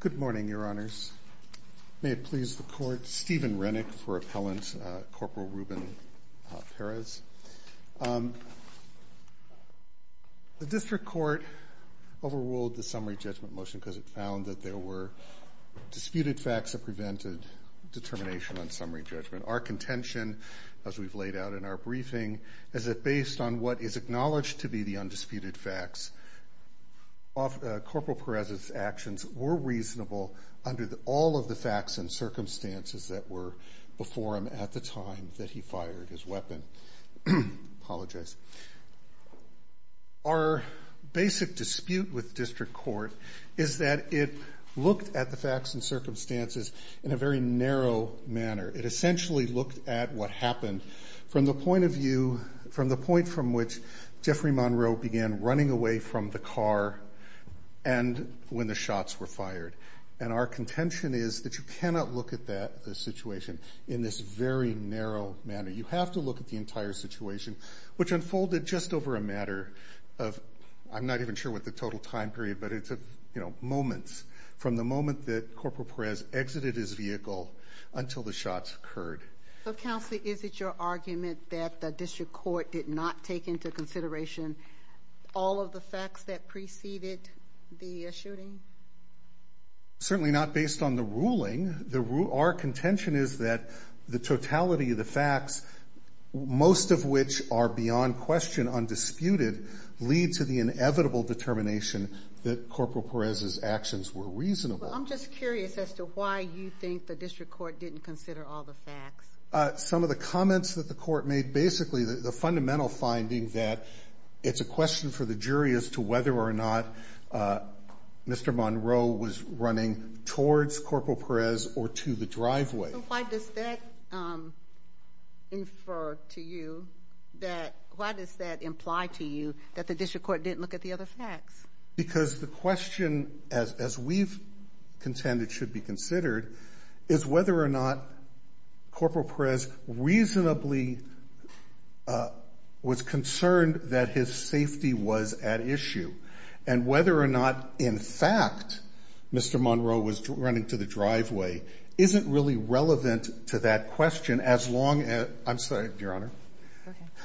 Good morning, Your Honors. May it please the Court, Stephen Rennick for Appellant Corporal Ruben Perez. The District Court overruled the summary judgment motion because it found that there were disputed facts that prevented determination on summary judgment. Our contention, as we've laid out in our briefing, is that based on what is acknowledged to be the undisputed facts, Corporal Perez's actions were reasonable under all of the facts and circumstances that were before him at the time that he fired his weapon. Our basic dispute with District Court is that it looked at the facts and circumstances in a very narrow manner. It essentially looked at what happened from the point from which Jeffrey Monroe began running away from the car and when the shots were fired. Our contention is that you cannot look at that situation in this very narrow manner. You have to look at the entire situation, which unfolded just over a matter of, I'm not even sure what the total time period, but it's moments, from the moment that Corporal Perez exited his vehicle until the shots occurred. Counselor, is it your argument that the District Court did not take into consideration all of the facts that preceded the shooting? Certainly not based on the ruling. Our contention is that the totality of the facts, most of which are beyond question undisputed, lead to the inevitable determination that Corporal Perez's actions were reasonable. I'm just curious as to why you think the District Court didn't consider all the facts. Some of the comments that the Court made, basically the fundamental finding that it's a question for the jury as to whether or not Mr. Monroe was running towards Corporal Perez or to the driveway. So why does that infer to you that, why does that imply to you that the District Court didn't look at the other facts? Because the question, as we contend it should be considered, is whether or not Corporal Perez reasonably was concerned that his safety was at issue. And whether or not, in fact, Mr. Monroe was running to the driveway isn't really relevant to that question as long as, I'm sorry, Your Honor,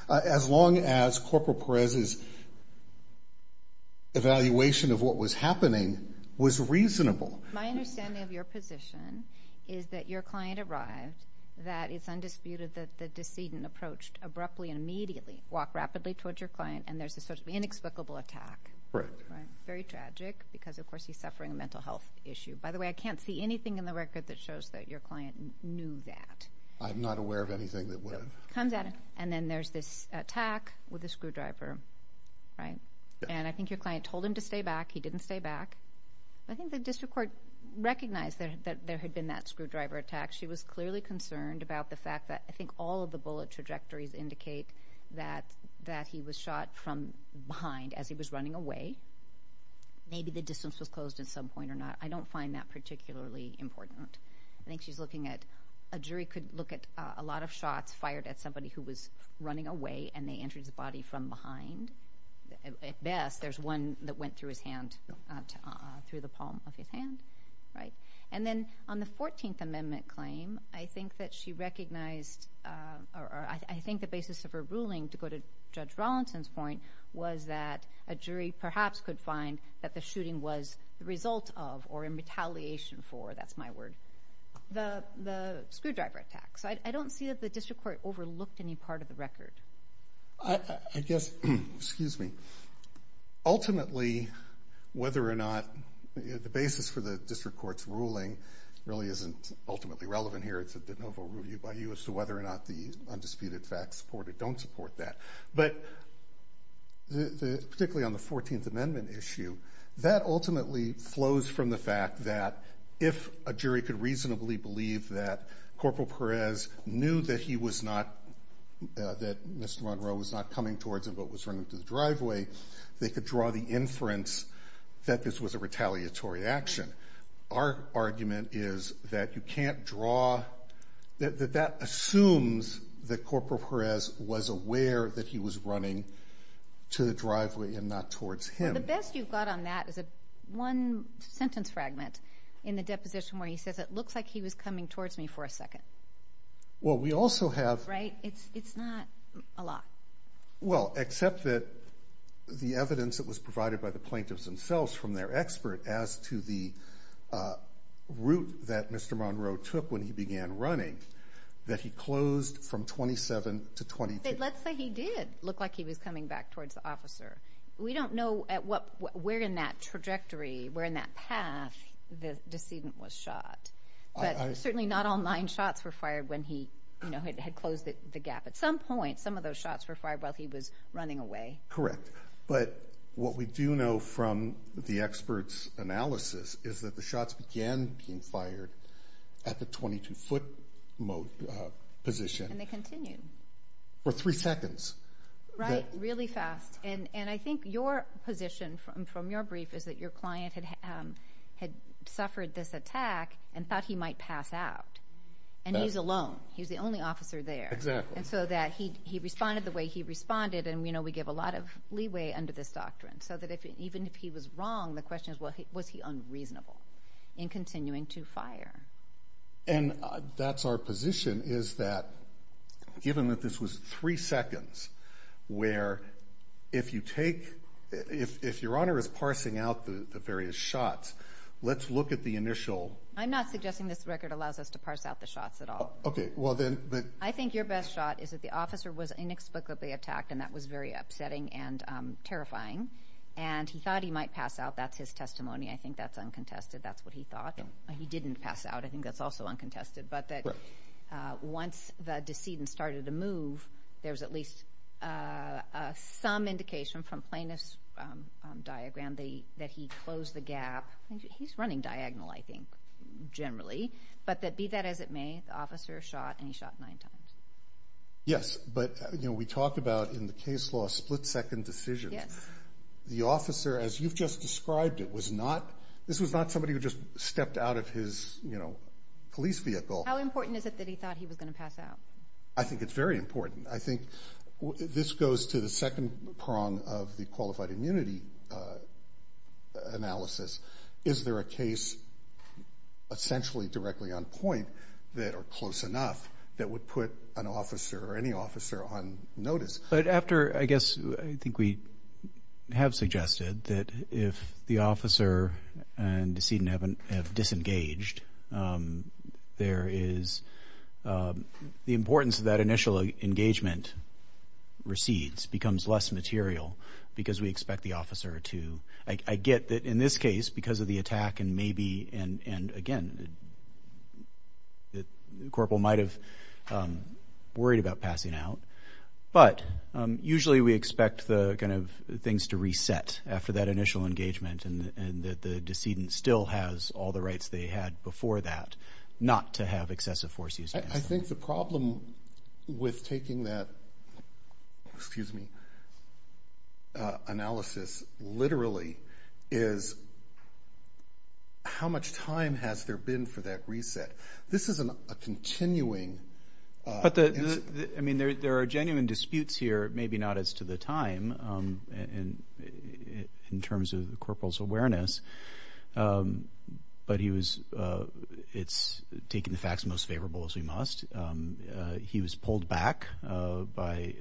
as long as Corporal Perez's evaluation of what was happening was reasonable. My understanding of your position is that your client arrived, that it's undisputed that the decedent approached abruptly and immediately, walked rapidly towards your client, and there's this sort of inexplicable attack. Right. Very tragic because of course he's suffering a mental health issue. By the way, I can't see anything in the record that shows that your client knew that. I'm not aware of anything that would have. It comes out and then there's this attack with a screwdriver. Right. And I think your client told him to stay back. He didn't stay back. I think the District Court recognized that there had been that screwdriver attack. She was clearly concerned about the fact that I think all of the bullet trajectories indicate that he was shot from behind as he was running away. Maybe the distance was closed at some point or not. I don't find that particularly important. I think she's looking at, a jury could look at a lot of shots fired at somebody who was running away and they entered the body from behind. At best, there's one that went through his hand, through the palm of his hand. Right. And then on the 14th Amendment claim, I think that she recognized, or I think the basis of her ruling, to go to Judge Rawlinson's point, was that a jury perhaps could find that the shooting was the result of, or in retaliation for, that's my word, the screwdriver attack. So I don't see that the District Court overlooked any part of the record. I guess, excuse me, ultimately whether or not the basis for the District Court's ruling really isn't ultimately relevant here. It's a de novo review by you as to whether or not the undisputed facts support or don't support that. But particularly on the 14th Amendment issue, that ultimately flows from the fact that if a jury could reasonably believe that Corporal Perez knew that he was not, that Mr. Monroe was not coming towards him but was running to the driveway, they could draw the inference that this was a retaliatory action. Our argument is that you can't draw, that that assumes that Corporal Perez was aware that he was running to the driveway and not towards him. Well, the best you've got on that is a one-sentence fragment in the deposition where he says, it looks like he was coming towards me for a second. Well, we also have... Right? It's not a lot. Well, except that the evidence that was provided by the plaintiffs themselves from their expert as to the route that Mr. Monroe took when he began running, that he closed from 27 to 22. But let's say he did look like he was coming back towards the officer. We don't know at what, where in that trajectory, where in that path the decedent was shot. But certainly not all nine shots were fired when he, you know, had closed the gap. At some point, some of those shots were fired while he was running away. Correct. But what we do know from the expert's analysis is that the shots began being fired at the 22-foot mode position. And they continued. For three seconds. Right. Really fast. And I think your position from your brief is that your client had suffered this attack and thought he might pass out. And he's alone. He's the only officer there. Exactly. And so that he responded the way he responded. And we know we give a lot of leeway under this doctrine. So that even if he was wrong, the question is, was he unreasonable in continuing to fire? And that's our position is that given that this was three seconds, where if you take, if your honor is parsing out the various shots, let's look at the initial. I'm not suggesting this record allows us to parse out the shots at all. Okay. Well then. I think your best shot is that the officer was inexplicably attacked and that was very upsetting and terrifying. And he thought he might pass out. That's his testimony. I think that's uncontested. That's what he thought. He didn't pass out. I think that's also uncontested. But that once the decedent started to move, there's at least some indication from plaintiff's diagram that he closed the gap. He's running diagonal, I think, generally. But that be that as it may, the officer shot and he shot nine times. Yes. But you know, we talked about in the case law, split second decision. The officer, as you've just described, it was not, this was not somebody who just stepped out of his police vehicle. How important is it that he thought he was going to pass out? I think it's very important. I think this goes to the second prong of the qualified immunity analysis. Is there a case essentially directly on point that are close enough that would put an officer or any officer on notice? But after, I guess, I think we have suggested that if the officer and decedent have disengaged, there is the importance of that initial engagement recedes, becomes less material because we expect the officer to, I get that in this case, because of the attack and maybe, and again, the corporal might have worried about passing out. But usually we expect the kind of things to reset after that initial engagement and that the decedent still has all the rights they had before that, not to have excessive force used against them. I think the problem with taking that, excuse me, analysis literally is how much time has there been for that reset? This is a continuing... But the, I mean, there are genuine disputes here, maybe not as to the time in terms of the corporal's awareness, but he was, it's taking the facts most favorable as we must. He was pulled back by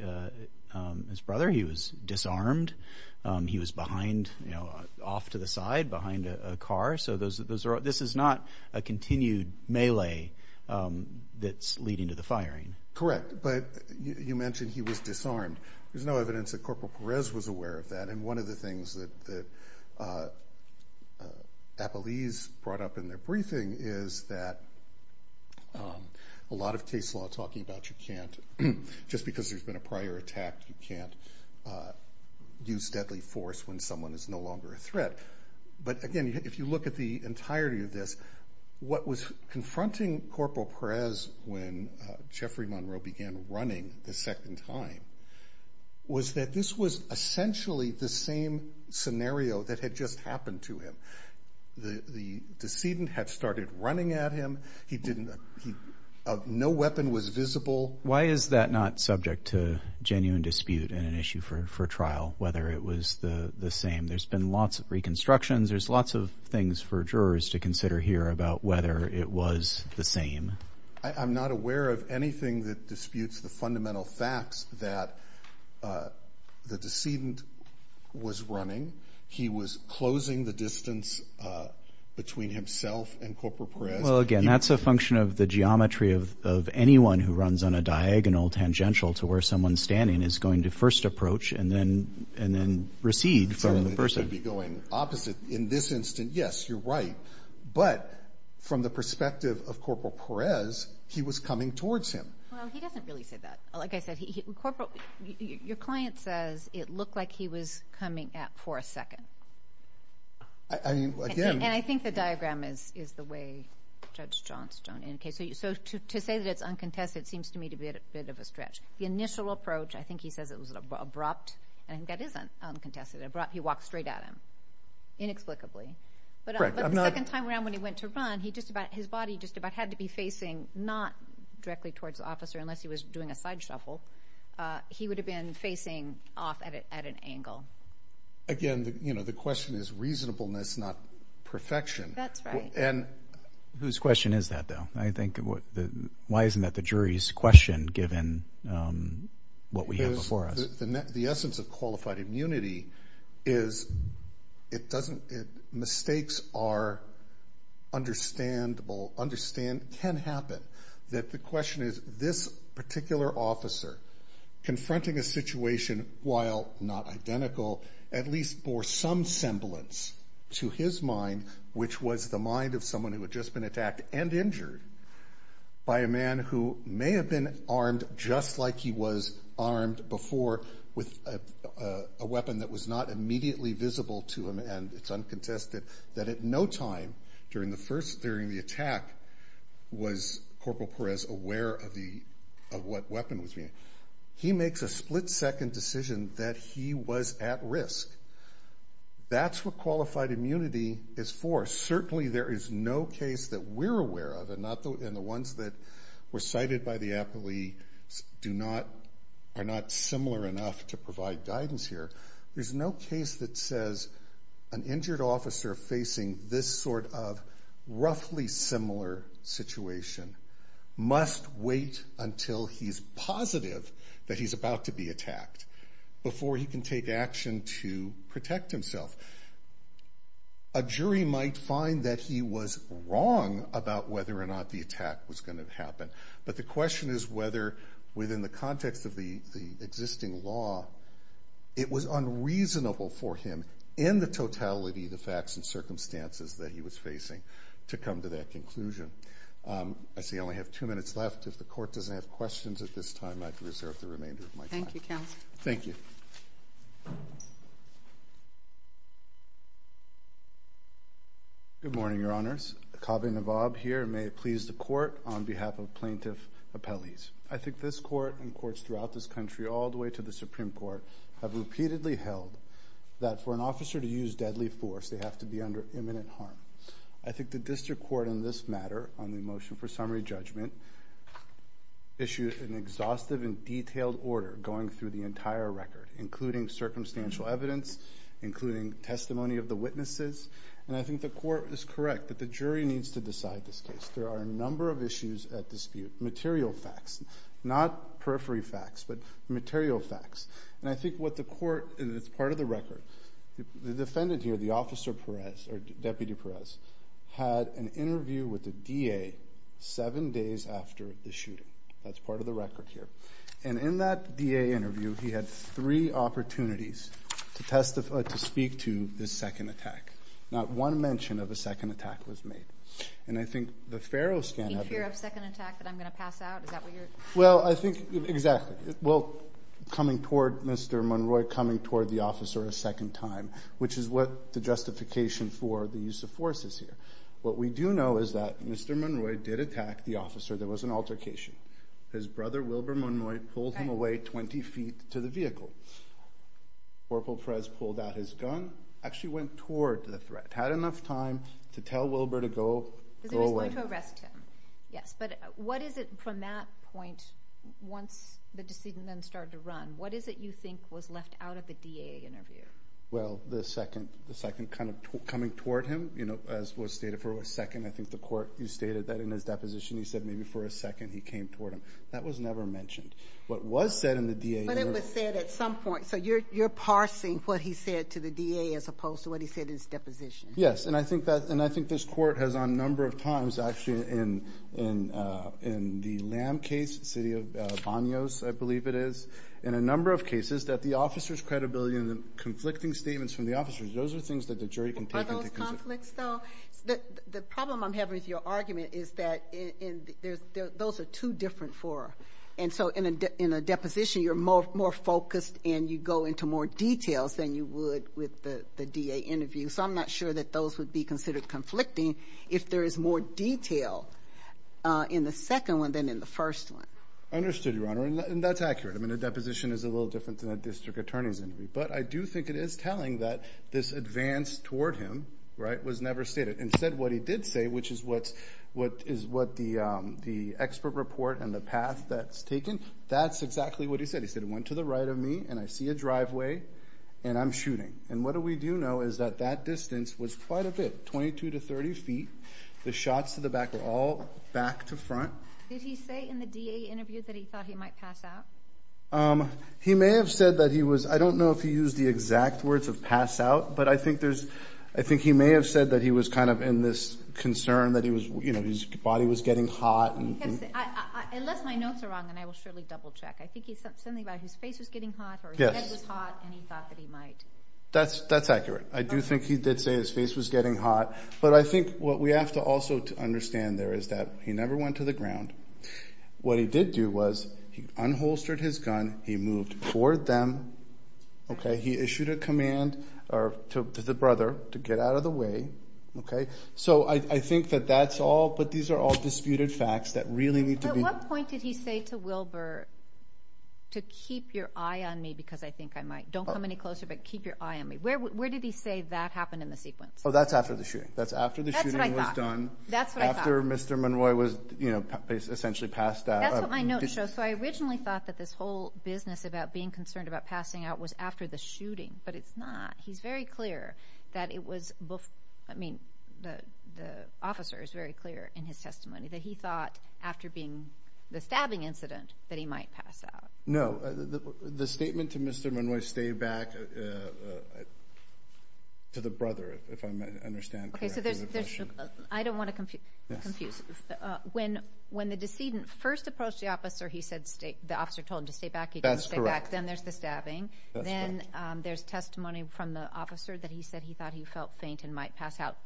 his brother. He was disarmed. He was behind, off to the side behind a car. So those are, this is not a continued melee that's leading to the firing. Correct. But you mentioned he was disarmed. There's no evidence that Corporal Perez was aware of that. And one of the things that Apollese brought up in their briefing is that a lot of case law talking about you can't, just because there's been a prior attack, you can't use deadly force when someone is no longer a threat. But again, if you look at the entirety of this, what was confronting Corporal Perez when Jeffrey Monroe began running the second time was that this was essentially the same scenario that had just happened to him. The decedent had started running at him. No weapon was visible. Why is that not subject to genuine dispute in an issue for trial? Whether it was the same? There's been lots of reconstructions. There's lots of things for jurors to consider here about whether it was the same. I'm not aware of anything that disputes the fundamental facts that the decedent was running. He was closing the distance between himself and Corporal Perez. Well, again, that's a function of the geometry of anyone who runs on a diagonal tangential to where someone's standing is going to first approach and then recede from the person. Certainly they should be going opposite in this instance. Yes, you're right. But from the perspective of Corporal Perez, he was coming towards him. Well, he doesn't really say that. Like I said, your client says it looked like he was coming at for a second. And I think the diagram is the way Judge Johnstone indicates. So to say that it's uncontested seems to me to be a bit of a stretch. The initial approach, I think he says it was abrupt. I think that is uncontested. He walked straight at him, inexplicably. But the second time around when he went to run, his body just about had to be facing not directly towards the officer unless he was doing a side shuffle. He would have been facing off at an angle. Again, you know, the question is reasonableness, not perfection. That's right. And whose question is that, though? I think why isn't that the jury's question given what we have before us? The essence of qualified immunity is it doesn't, mistakes are understandable, can happen. That the question is this particular officer confronting a situation, while not identical, at least bore some semblance to his mind, which was the mind of someone who had just been attacked and injured by a man who may have been armed just like he was armed before with a weapon that was not immediately visible to him. And it's uncontested that at no time during the attack was Corporal Perez aware of what weapon was being used. He makes a split-second decision that he was at risk. That's what qualified immunity is for. Certainly there is no case that we're aware of, and the ones that were cited by the appellee are not similar enough to provide guidance here. There's no case that says an injured officer facing this sort of roughly similar situation must wait until he's positive that he's about to be attacked before he can take action to protect himself. A jury might find that he was wrong about whether or not the attack was going to happen, but the question is whether, within the context of the existing law, it was unreasonable for him, in the totality of the facts and circumstances that he was facing, to come to that conclusion. I see I only have two minutes left. If the Court doesn't have questions at this time, I'd reserve the remainder of my time. Thank you, Counselor. Thank you. Good morning, Your Honors. Kaveh Nawab here, and may it please the Court, on behalf of plaintiff appellees. I think this Court and courts throughout this country, all the way to the Supreme Court, have repeatedly held that for an officer to use deadly force, they have to be under imminent harm. I think the District Court, in this matter, on the motion for summary judgment, issued an exhaustive and detailed order going through the entire record, including circumstantial evidence, including testimony of the witnesses, and I think the Court is correct that the jury needs to decide this case. There are a number of issues at dispute, material facts, not periphery facts, but material facts. And I know that Deputy Perez had an interview with the DA seven days after the shooting. That's part of the record here. And in that DA interview, he had three opportunities to speak to this second attack. Not one mention of a second attack was made. And I think the Faro scan had... A fear of second attack that I'm going to pass out? Is that what you're... Well, I think, exactly. Well, coming toward Mr. Monroy, coming toward the officer a second time, which is what the justification for the use of force is here. What we do know is that Mr. Monroy did attack the officer. There was an altercation. His brother, Wilbur Monroy, pulled him away 20 feet to the vehicle. Corporal Perez pulled out his gun, actually went toward the threat, had enough time to tell Wilbur to go away. Because he was going to arrest him. Yes, but what is it from that point, once the decedent then started to run, what is it you think was left out of the DA interview? Well, the second kind of coming toward him, as was stated for a second. I think the court stated that in his deposition, he said maybe for a second he came toward him. That was never mentioned. What was said in the DA interview... But it was said at some point. So you're parsing what he said to the DA as opposed to what he said in his deposition. Yes, and I think this court has on a number of times, actually, in the Lamb case, the Bonyos, I believe it is, in a number of cases, that the officer's credibility and the conflicting statements from the officers, those are things that the jury can take into consideration. Are those conflicts, though? The problem I'm having with your argument is that those are two different fora. And so in a deposition, you're more focused and you go into more details than you would with the DA interview. So I'm not sure that those would be considered conflicting if there is more detail in the second one than in the first one. Understood, Your Honor, and that's accurate. I mean, a deposition is a little different than a district attorney's interview. But I do think it is telling that this advance toward him was never stated. Instead, what he did say, which is what the expert report and the path that's taken, that's exactly what he said. He said, it went to the right of me and I see a driveway and I'm shooting. And what do we do know is that that distance was quite a bit, 22 to 30 feet. The shots to the back were all back to front. Did he say in the DA interview that he thought he might pass out? He may have said that he was, I don't know if he used the exact words of pass out, but I think there's, I think he may have said that he was kind of in this concern that he was, you know, his body was getting hot. Unless my notes are wrong, then I will surely double check. I think he said something about his face was getting hot or his head was hot and he thought that he might. That's accurate. I do think he did say his face was getting hot. But I think what we have to also understand there is that he never went to the ground. What he did do was he unholstered his gun. He moved toward them. Okay. He issued a command to the brother to get out of the way. Okay. So I think that that's all, but these are all disputed facts that really need to be. At what point did he say to Wilbur to keep your eye on me because I think I might, don't want to come any closer, but keep your eye on me. Where, where did he say that happened in the sequence? Oh, that's after the shooting. That's after the shooting was done. That's what I thought. After Mr. Monroy was, you know, essentially passed out. That's what my notes show. So I originally thought that this whole business about being concerned about passing out was after the shooting, but it's not. He's very clear that it was before, I mean, the, the officer is very clear in his testimony that he thought after being, the stabbing incident that he might pass out. No, the statement to Mr. Monroy, stay back to the brother, if I understand. Okay. So there's, there's, I don't want to confuse, confuse. When, when the decedent first approached the officer, he said, the officer told him to stay back. He didn't stay back. Then there's the stabbing. Then there's testimony from the officer that he said he thought he felt faint and might pass out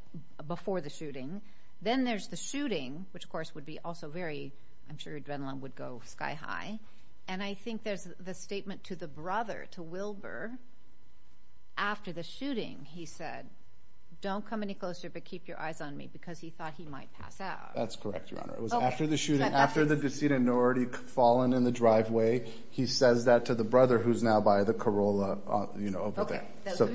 before the shooting. Then there's the shooting, which of course would be also very, I'm sure adrenaline would go sky high. And I think there's the statement to the brother, to Wilbur, after the shooting, he said, don't come any closer, but keep your eyes on me because he thought he might pass out. That's correct, Your Honor. It was after the shooting, after the decedent had already fallen in the driveway, he says that to the brother who's now by the Corolla, you know, over there. So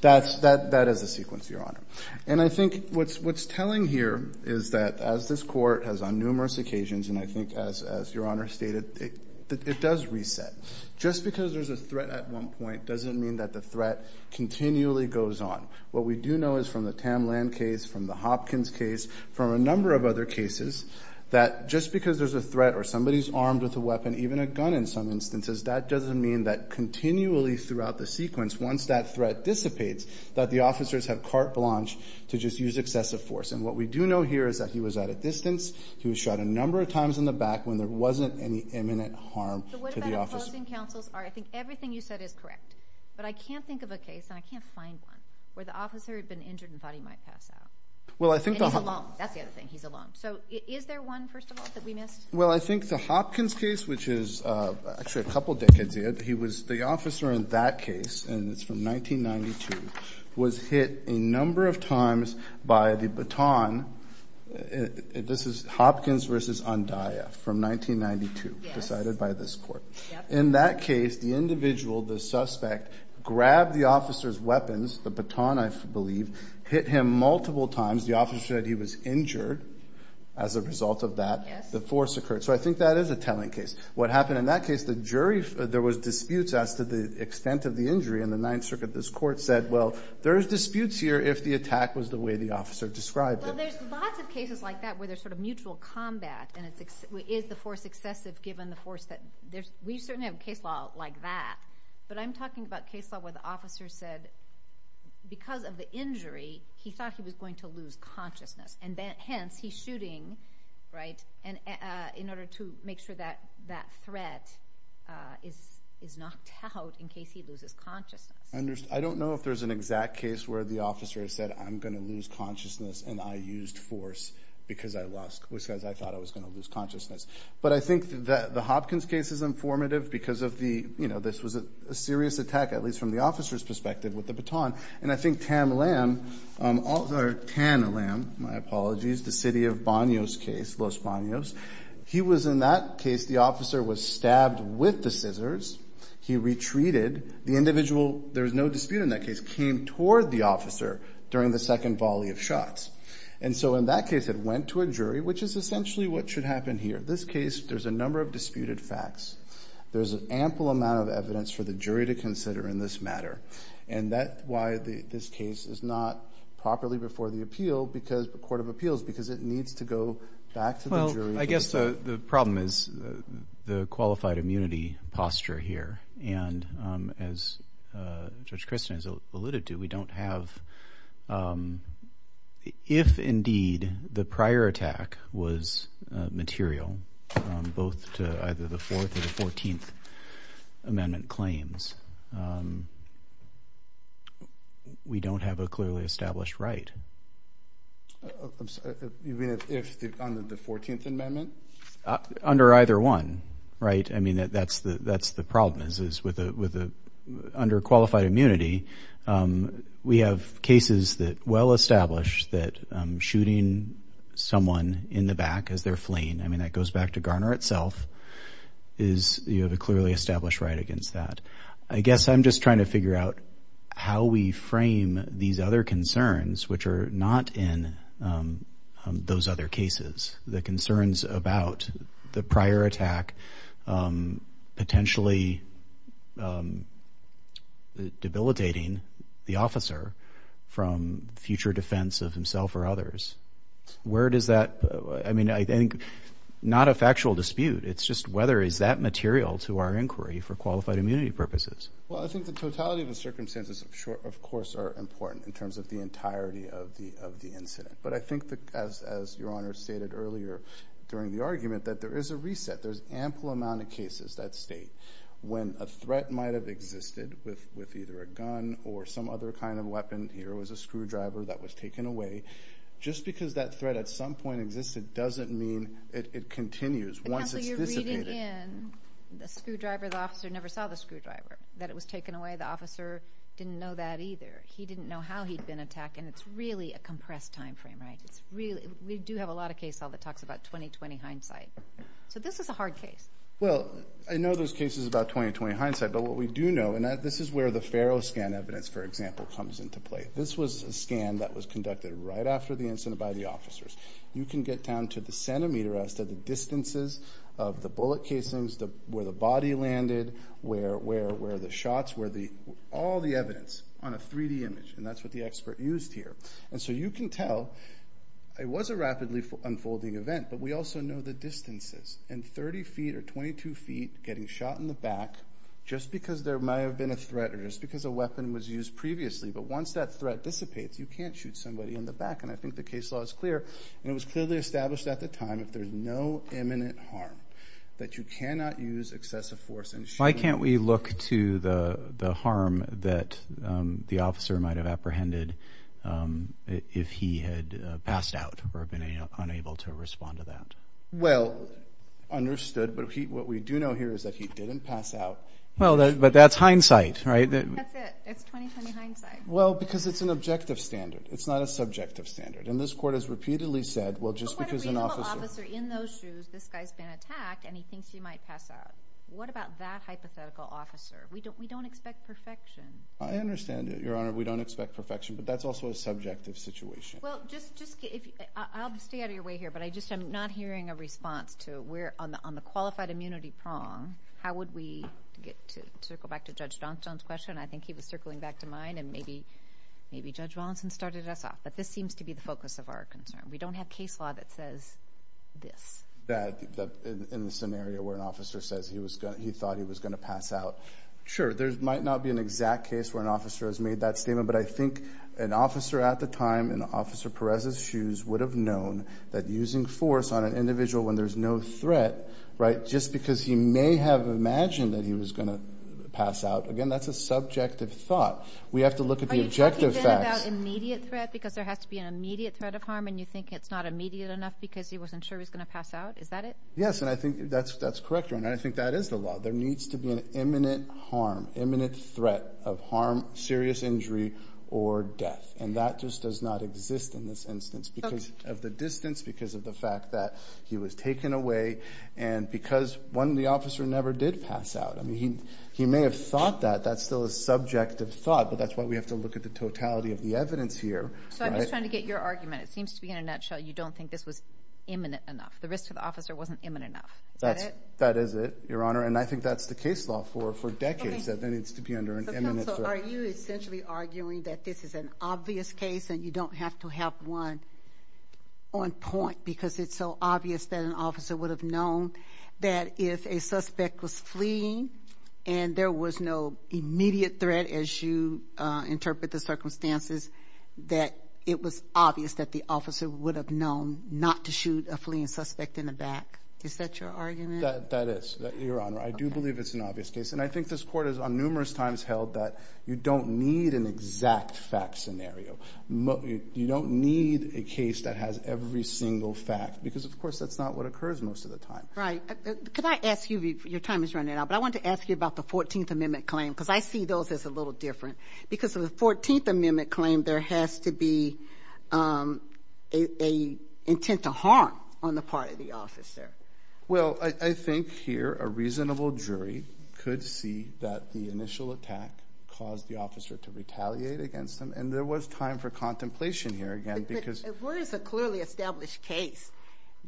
that's, that, that is a sequence, Your Honor. And I think what's, what's telling here is that as this court has on numerous occasions, and I think as, as Your Honor stated, it does reset. Just because there's a threat at one point doesn't mean that the threat continually goes on. What we do know is from the Tam Land case, from the Hopkins case, from a number of other cases, that just because there's a threat or somebody's armed with a weapon, even a gun in some instances, that doesn't mean that continually throughout the sequence, once that threat dissipates, that the officers have carte blanche to just use excessive force. And what we do know here is that he was at a distance, he was shot a number of times in the back when there wasn't any imminent harm to the officer. So what about opposing counsels? I think everything you said is correct. But I can't think of a case, and I can't find one, where the officer had been injured and thought he might pass out. And he's alone. That's the other thing. He's alone. So is there one, first of all, that we missed? Well, I think the Hopkins case, which is actually a couple decades, he was the officer in that case, and it's from 1992, was hit a number of times by the baton. This is Hopkins versus Undia from 1992, decided by this court. In that case, the individual, the suspect, grabbed the officer's weapons, the baton, I believe, hit him multiple times. The officer said he was injured as a result of that. The force occurred. So I think that is a telling case. What happened in that case, the jury, there was disputes as to the extent of the injury in the Ninth Circuit. This court said, well, there's disputes here if the attack was the way the officer described it. Well, there's lots of cases like that, where there's sort of mutual combat, and is the force excessive, given the force? We certainly have case law like that. But I'm talking about case law where the officer said, because of the injury, he thought he was going to lose that threat is knocked out in case he loses consciousness. I don't know if there's an exact case where the officer said, I'm going to lose consciousness, and I used force, because I thought I was going to lose consciousness. But I think the Hopkins case is informative, because this was a serious attack, at least from the officer's perspective, with the baton. And I think Tam Lam, or Tan Lam, my apologies, the city of Los Banos case, Los Banos, he was in that case, the officer was stabbed with the scissors. He retreated. The individual, there was no dispute in that case, came toward the officer during the second volley of shots. And so in that case, it went to a jury, which is essentially what should happen here. In this case, there's a number of disputed facts. There's an ample amount of evidence for the jury to consider in this matter. And that's why this case is not properly before the Court of Appeals, because it needs to go back to the jury. Well, I guess the problem is the qualified immunity posture here. And as Judge Christin has alluded to, we don't have, if indeed the prior attack was material, both to either the Fourth or the Fourteenth Amendment claims, we don't have a clearly established right. I'm sorry, you mean if under the Fourteenth Amendment? Under either one, right? I mean, that's the problem, is with the underqualified immunity, we have cases that well establish that shooting someone in the back as they're fleeing, I guess you have a clearly established right against that. I guess I'm just trying to figure out how we frame these other concerns, which are not in those other cases, the concerns about the prior attack potentially debilitating the officer from future defense of himself or others. Where does that, I mean, I think not a factual dispute, it's just whether is that material to our inquiry for qualified immunity purposes. Well, I think the totality of the circumstances, of course, are important in terms of the entirety of the incident. But I think, as Your Honor stated earlier during the argument, that there is a reset, there's ample amount of cases that state when a threat might have existed with either a gun or some other kind of weapon, here was a screwdriver that was taken away, just because that threat at some point existed doesn't mean it continues once it's dissipated. But counsel, you're reading in, the screwdriver, the officer never saw the screwdriver, that it was taken away, the officer didn't know that either. He didn't know how he'd been attacked, and it's really a compressed time frame, right? We do have a lot of case law that talks about 20-20 hindsight. So this is a hard case. Well, I know those cases about 20-20 hindsight, but what we do know, and this is where the officers. You can get down to the centimeter as to the distances of the bullet casings, where the body landed, where the shots were, all the evidence on a 3D image, and that's what the expert used here. And so you can tell, it was a rapidly unfolding event, but we also know the distances. And 30 feet or 22 feet, getting shot in the back, just because there might have been a threat or just because a weapon was used previously, but once that clear, and it was clearly established at the time, if there's no imminent harm, that you cannot use excessive force. Why can't we look to the harm that the officer might have apprehended if he had passed out or been unable to respond to that? Well, understood, but what we do know here is that he didn't pass out. Well, but that's hindsight, right? That's it. It's 20-20 hindsight. Well, because it's an objective standard. It's not a subjective standard. And this court has repeatedly said, well, just because an officer... But what if we have an officer in those shoes, this guy's been attacked, and he thinks he might pass out? What about that hypothetical officer? We don't expect perfection. I understand, Your Honor, we don't expect perfection, but that's also a subjective situation. Well, just, I'll stay out of your way here, but I just am not hearing a response to where on the qualified immunity prong, how would we get to, to go back to Judge Johnstone's question? I think he was circling back to mine, and maybe, maybe Judge Wallinson started us off. But this seems to be the focus of our concern. We don't have case law that says this. That, in the scenario where an officer says he was going, he thought he was going to pass out. Sure, there might not be an exact case where an officer has made that statement, but I think an officer at the time, in Officer Perez's shoes, would have known that using force on an individual when there's no threat, right, just because he may have imagined that he was going to pass out. Again, that's a subjective thought. We have to look at the objective facts. Are you talking then about immediate threat, because there has to be an immediate threat of harm, and you think it's not immediate enough because he wasn't sure he was going to pass out? Is that it? Yes, and I think that's, that's correct, Your Honor. I think that is the law. There needs to be an imminent harm, imminent threat of harm, serious injury, or death. And that just does not exist in this instance because of the distance, because of the fact that he was taken away, and because, one, the officer never did pass out. I mean, he may have thought that. That's still a subjective thought, but that's why we have to look at the totality of the evidence here. So I'm just trying to get your argument. It seems to be in a nutshell, you don't think this was imminent enough. The risk to the officer wasn't imminent enough. Is that it? That is it, Your Honor, and I think that's the case law for decades, that there needs to be under an imminent threat. So are you essentially arguing that this is an obvious case and you don't have to have one on point because it's so obvious that an officer would have known that if a suspect was fleeing and there was no immediate threat, as you interpret the circumstances, that it was obvious that the officer would have known not to shoot a fleeing suspect in the back? Is that your argument? That is, Your Honor. I do believe it's an obvious case, and I think this Court has on every single fact because, of course, that's not what occurs most of the time. Right. Could I ask you, your time is running out, but I wanted to ask you about the 14th Amendment claim because I see those as a little different. Because of the 14th Amendment claim, there has to be an intent to harm on the part of the officer. Well, I think here a reasonable jury could see that the initial attack caused the officer to retaliate against them, and there was time for contemplation here again because... But if there is a clearly established case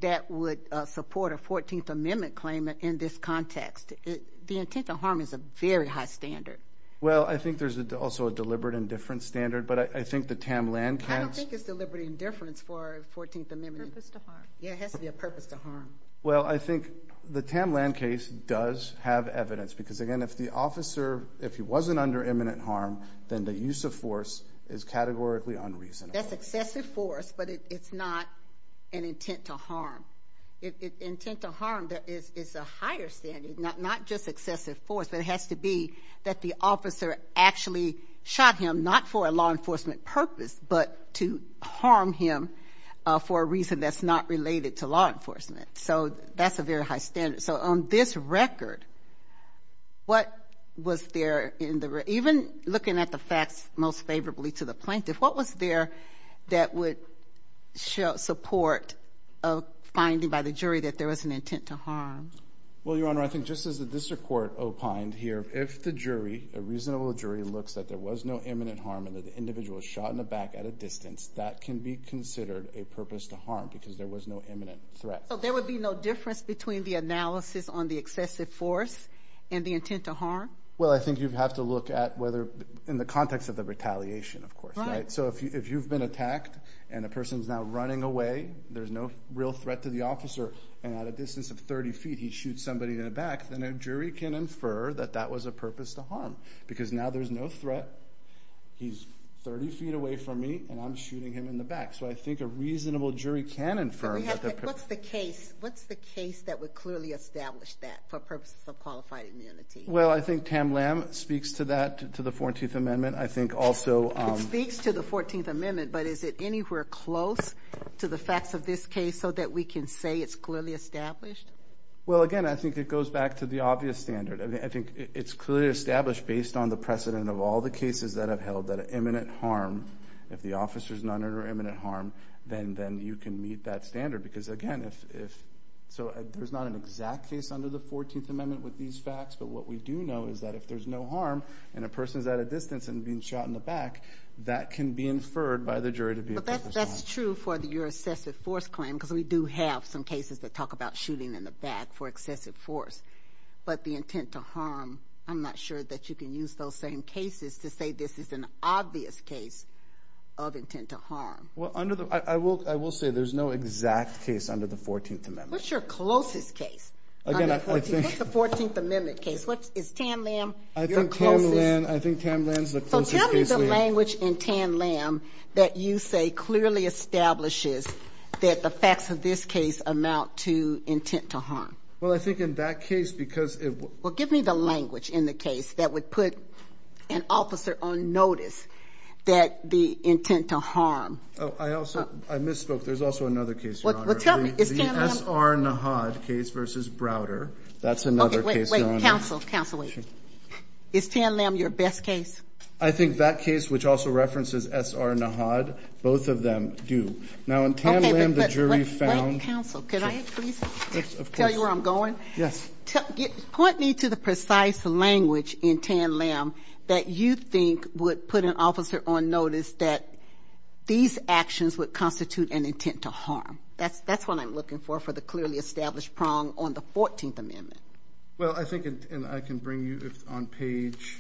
that would support a 14th Amendment claim in this context, the intent to harm is a very high standard. Well, I think there's also a deliberate indifference standard, but I think the Tam Land case... I don't think it's deliberate indifference for 14th Amendment. Purpose to harm. Yeah, it has to be a purpose to harm. Well, I think the Tam Land case does have evidence because, again, if the officer, if he wasn't under imminent harm, then the use of force is categorically unreasonable. That's excessive force, but it's not an intent to harm. Intent to harm is a higher standard, not just excessive force, but it has to be that the officer actually shot him, not for a law enforcement purpose, but to harm him for a reason that's not related to law enforcement. So that's a very high standard. So on this record, what was there in the... Even looking at the facts most favorably to the plaintiff, what was there that would support a finding by the jury that there was an intent to harm? Well, Your Honor, I think just as the district court opined here, if the jury, a reasonable jury, looks that there was no imminent harm and that the individual was shot in the back at a distance, that can be considered a purpose to harm because there was no imminent threat. So there would be no difference between the analysis on the excessive force and the intent to harm? Well, I think you'd have to look at whether, in the context of the retaliation, of course. So if you've been attacked and a person's now running away, there's no real threat to the officer, and at a distance of 30 feet he shoots somebody in the back, then a jury can infer that that was a purpose to harm because now there's no threat, he's 30 feet away from me, and I'm shooting him in the back. So I think a reasonable jury can infer... What's the case that would clearly establish that for purposes of qualified immunity? Well, I think Tam Lam speaks to that, to the 14th Amendment. I think also... It speaks to the 14th Amendment, but is it anywhere close to the facts of this case so that we can say it's clearly established? Well, again, I think it goes back to the obvious standard. I think it's clearly established based on the precedent of all the cases that have held that an imminent harm, if the officer's not under imminent harm, then you can meet that standard. Because, again, there's not an exact case under the 14th Amendment with these facts, but what we do know is that if there's no harm and a person's at a distance and being shot in the back, that can be inferred by the jury to be a purpose to harm. But that's true for your excessive force claim, because we do have some cases that talk about shooting in the back for excessive force. But the intent to harm, I'm not sure that you can use those same cases to say this is an obvious case of intent to harm. Well, I will say there's no exact case under the 14th Amendment. What's your closest case under the 14th Amendment? What's the 14th Amendment case? Is Tan Lam your closest? I think Tan Lam's the closest case. So tell me the language in Tan Lam that you say clearly establishes that the facts of this case amount to intent to harm. Well, I think in that case, because it... Well, give me the language in the case that would put an officer on notice that the intent to harm... Oh, I also... I misspoke. There's also another case, Your Honor. Well, tell me, is Tan Lam... The S.R. Nahad case versus Browder. That's another case, Your Honor. Okay, wait, wait. Counsel, counsel, wait. Is Tan Lam your best case? I think that case, which also references S.R. Nahad, both of them do. Now, in Tan Lam, the jury found... Wait, wait, wait. Counsel, could I please tell you where I'm going? Yes. Point me to the precise language in Tan Lam that you think would put an officer on notice that these actions would constitute an intent to harm. That's what I'm looking for, for the clearly established prong on the 14th Amendment. Well, I think, and I can bring you on page...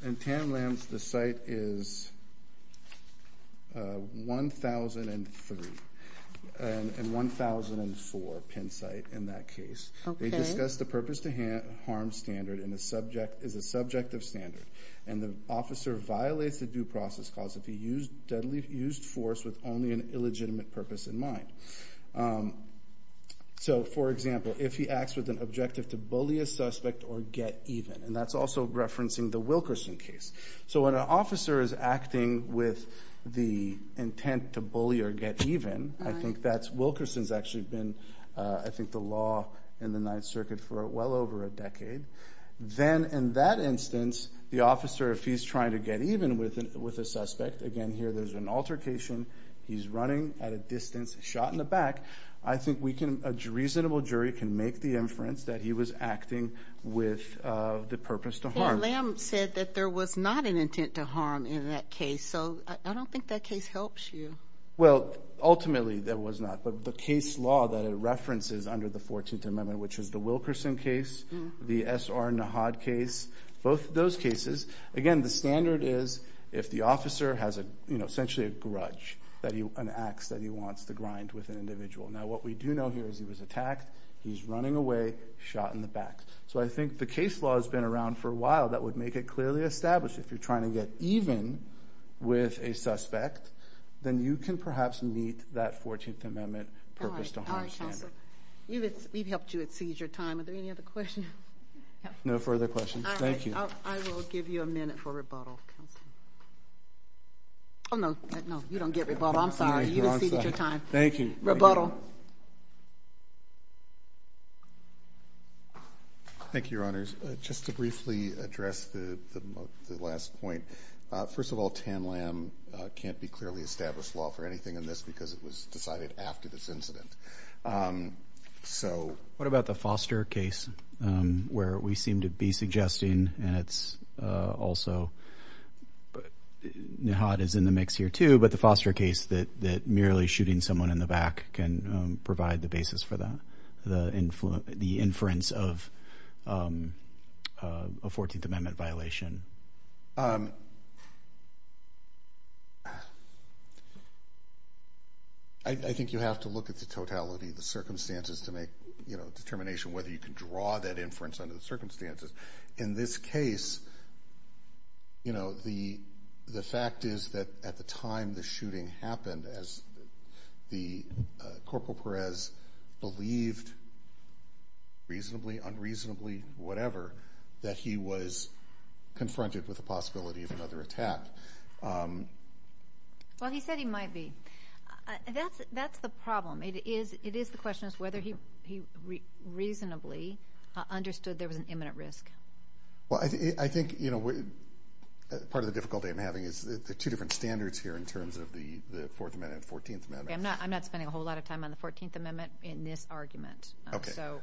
In Tan Lam, the site is 1003 and 1004 Penn site in that case. They discuss the purpose to harm standard is a subjective standard, and the officer violates the due process clause if he used deadly force with only an illegitimate purpose in mind. So, for example, if he acts with an objective to bully a suspect or get even, and that's also referencing the Wilkerson case. So when an officer is acting with the intent to bully or get even, I think that's Wilkerson's actually been, I think, the law in the Ninth Circuit for well over a decade. Then, in that instance, the officer, if he's trying to get even with a suspect, again, here there's an altercation. He's running at a distance, shot in the back. I think a reasonable jury can make the inference that he was acting with the purpose to harm. Tan Lam said that there was not an intent to harm in that case, so I don't think that case helps you. Well, ultimately there was not, but the case law that it references under the 14th Amendment, which is the Wilkerson case, the S.R. Nahad case, both of those cases, again, the standard is if the officer has essentially a grudge, an ax that he wants to grind with an individual. Now what we do know here is he was attacked, he's running away, shot in the back. So I think the case law has been around for a while. That would make it clearly established. If you're trying to get even with a suspect, then you can perhaps meet that 14th Amendment purpose to harm standard. All right, counsel. We've helped you exceed your time. Are there any other questions? No further questions. Thank you. All right, I will give you a minute for rebuttal, counsel. Oh, no, you don't get rebuttal. I'm sorry. You exceeded your time. Thank you. Thank you, Your Honors. Just to briefly address the last point, first of all, Tan Lam can't be clearly established law for anything in this because it was decided after this incident. What about the Foster case where we seem to be suggesting, and it's also Nahad is in the mix here too, but the Foster case that merely shooting someone in the back can provide the basis for that, the inference of a 14th Amendment violation? I think you have to look at the totality of the circumstances to make a determination whether you can draw that inference under the circumstances. In this case, the fact is that at the time the shooting happened, the Corporal Perez believed reasonably, unreasonably, whatever, that he was confronted with the possibility of another attack. Well, he said he might be. That's the problem. It is the question of whether he reasonably understood there was an imminent risk. I think part of the difficulty I'm having is there are two different standards here in terms of the Fourth Amendment and the 14th Amendment. I'm not spending a whole lot of time on the 14th Amendment in this argument. So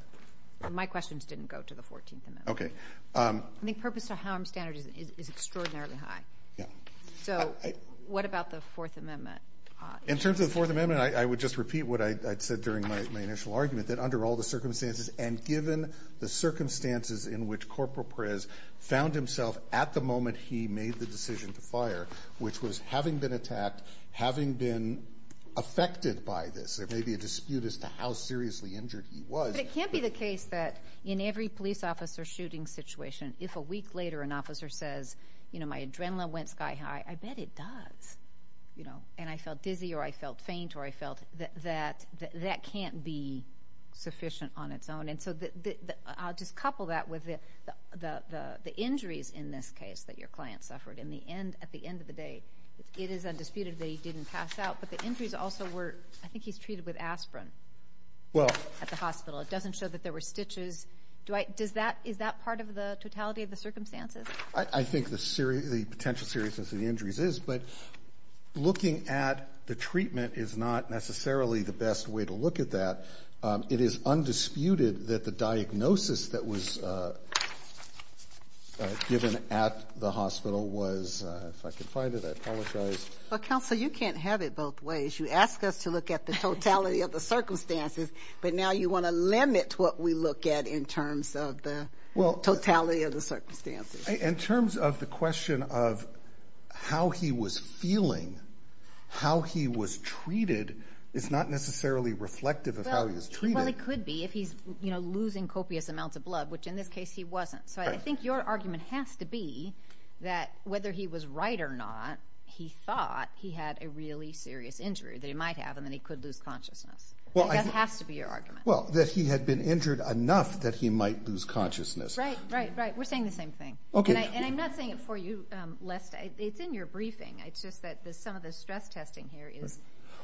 my questions didn't go to the 14th Amendment. I think purpose to harm standards is extraordinarily high. So what about the Fourth Amendment? In terms of the Fourth Amendment, I would just repeat what I said during my initial argument, that under all the circumstances and given the circumstances in which Corporal Perez found himself at the moment he made the decision to fire, which was having been attacked, having been affected by this. There may be a dispute as to how seriously injured he was. But it can't be the case that in every police officer shooting situation, if a week later an officer says, you know, my adrenaline went sky high, I bet it does. And I felt dizzy or I felt faint or I felt that that can't be sufficient on its own. And so I'll just couple that with the injuries in this case that your client suffered. And at the end of the day, it is undisputed that he didn't pass out. But the injuries also were ‑‑ I think he's treated with aspirin at the hospital. It doesn't show that there were stitches. Is that part of the totality of the circumstances? I think the potential seriousness of the injuries is. But looking at the treatment is not necessarily the best way to look at that. It is undisputed that the diagnosis that was given at the hospital was ‑‑ if I can find it, I apologize. Well, Counsel, you can't have it both ways. You ask us to look at the totality of the circumstances, but now you want to limit what we look at in terms of the totality of the circumstances. In terms of the question of how he was feeling, how he was treated, it's not necessarily reflective of how he was treated. Well, it could be if he's losing copious amounts of blood, which in this case he wasn't. So I think your argument has to be that whether he was right or not, he thought he had a really serious injury that he might have and that he could lose consciousness. That has to be your argument. Well, that he had been injured enough that he might lose consciousness. Right, right, right. We're saying the same thing. And I'm not saying it for you, Lester. It's in your briefing. It's just that some of the stress testing here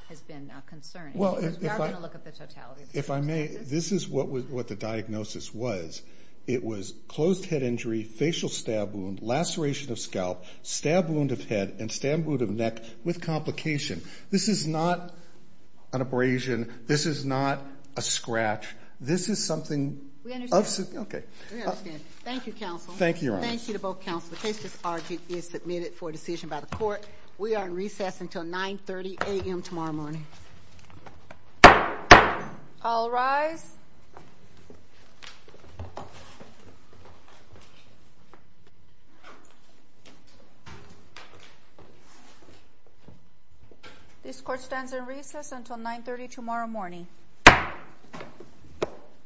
has been concerning. Because we are going to look at the totality of the circumstances. If I may, this is what the diagnosis was. It was closed head injury, facial stab wound, laceration of scalp, stab wound of head and stab wound of neck with complication. This is not an abrasion. This is not a scratch. This is something ‑‑ Okay. We understand. Thank you, Counsel. Thank you, Your Honor. Thank you to both counsel. The case is argued and submitted for decision by the court. We are in recess until 9.30 a.m. tomorrow morning. I'll rise. This court stands in recess until 9.30 tomorrow morning.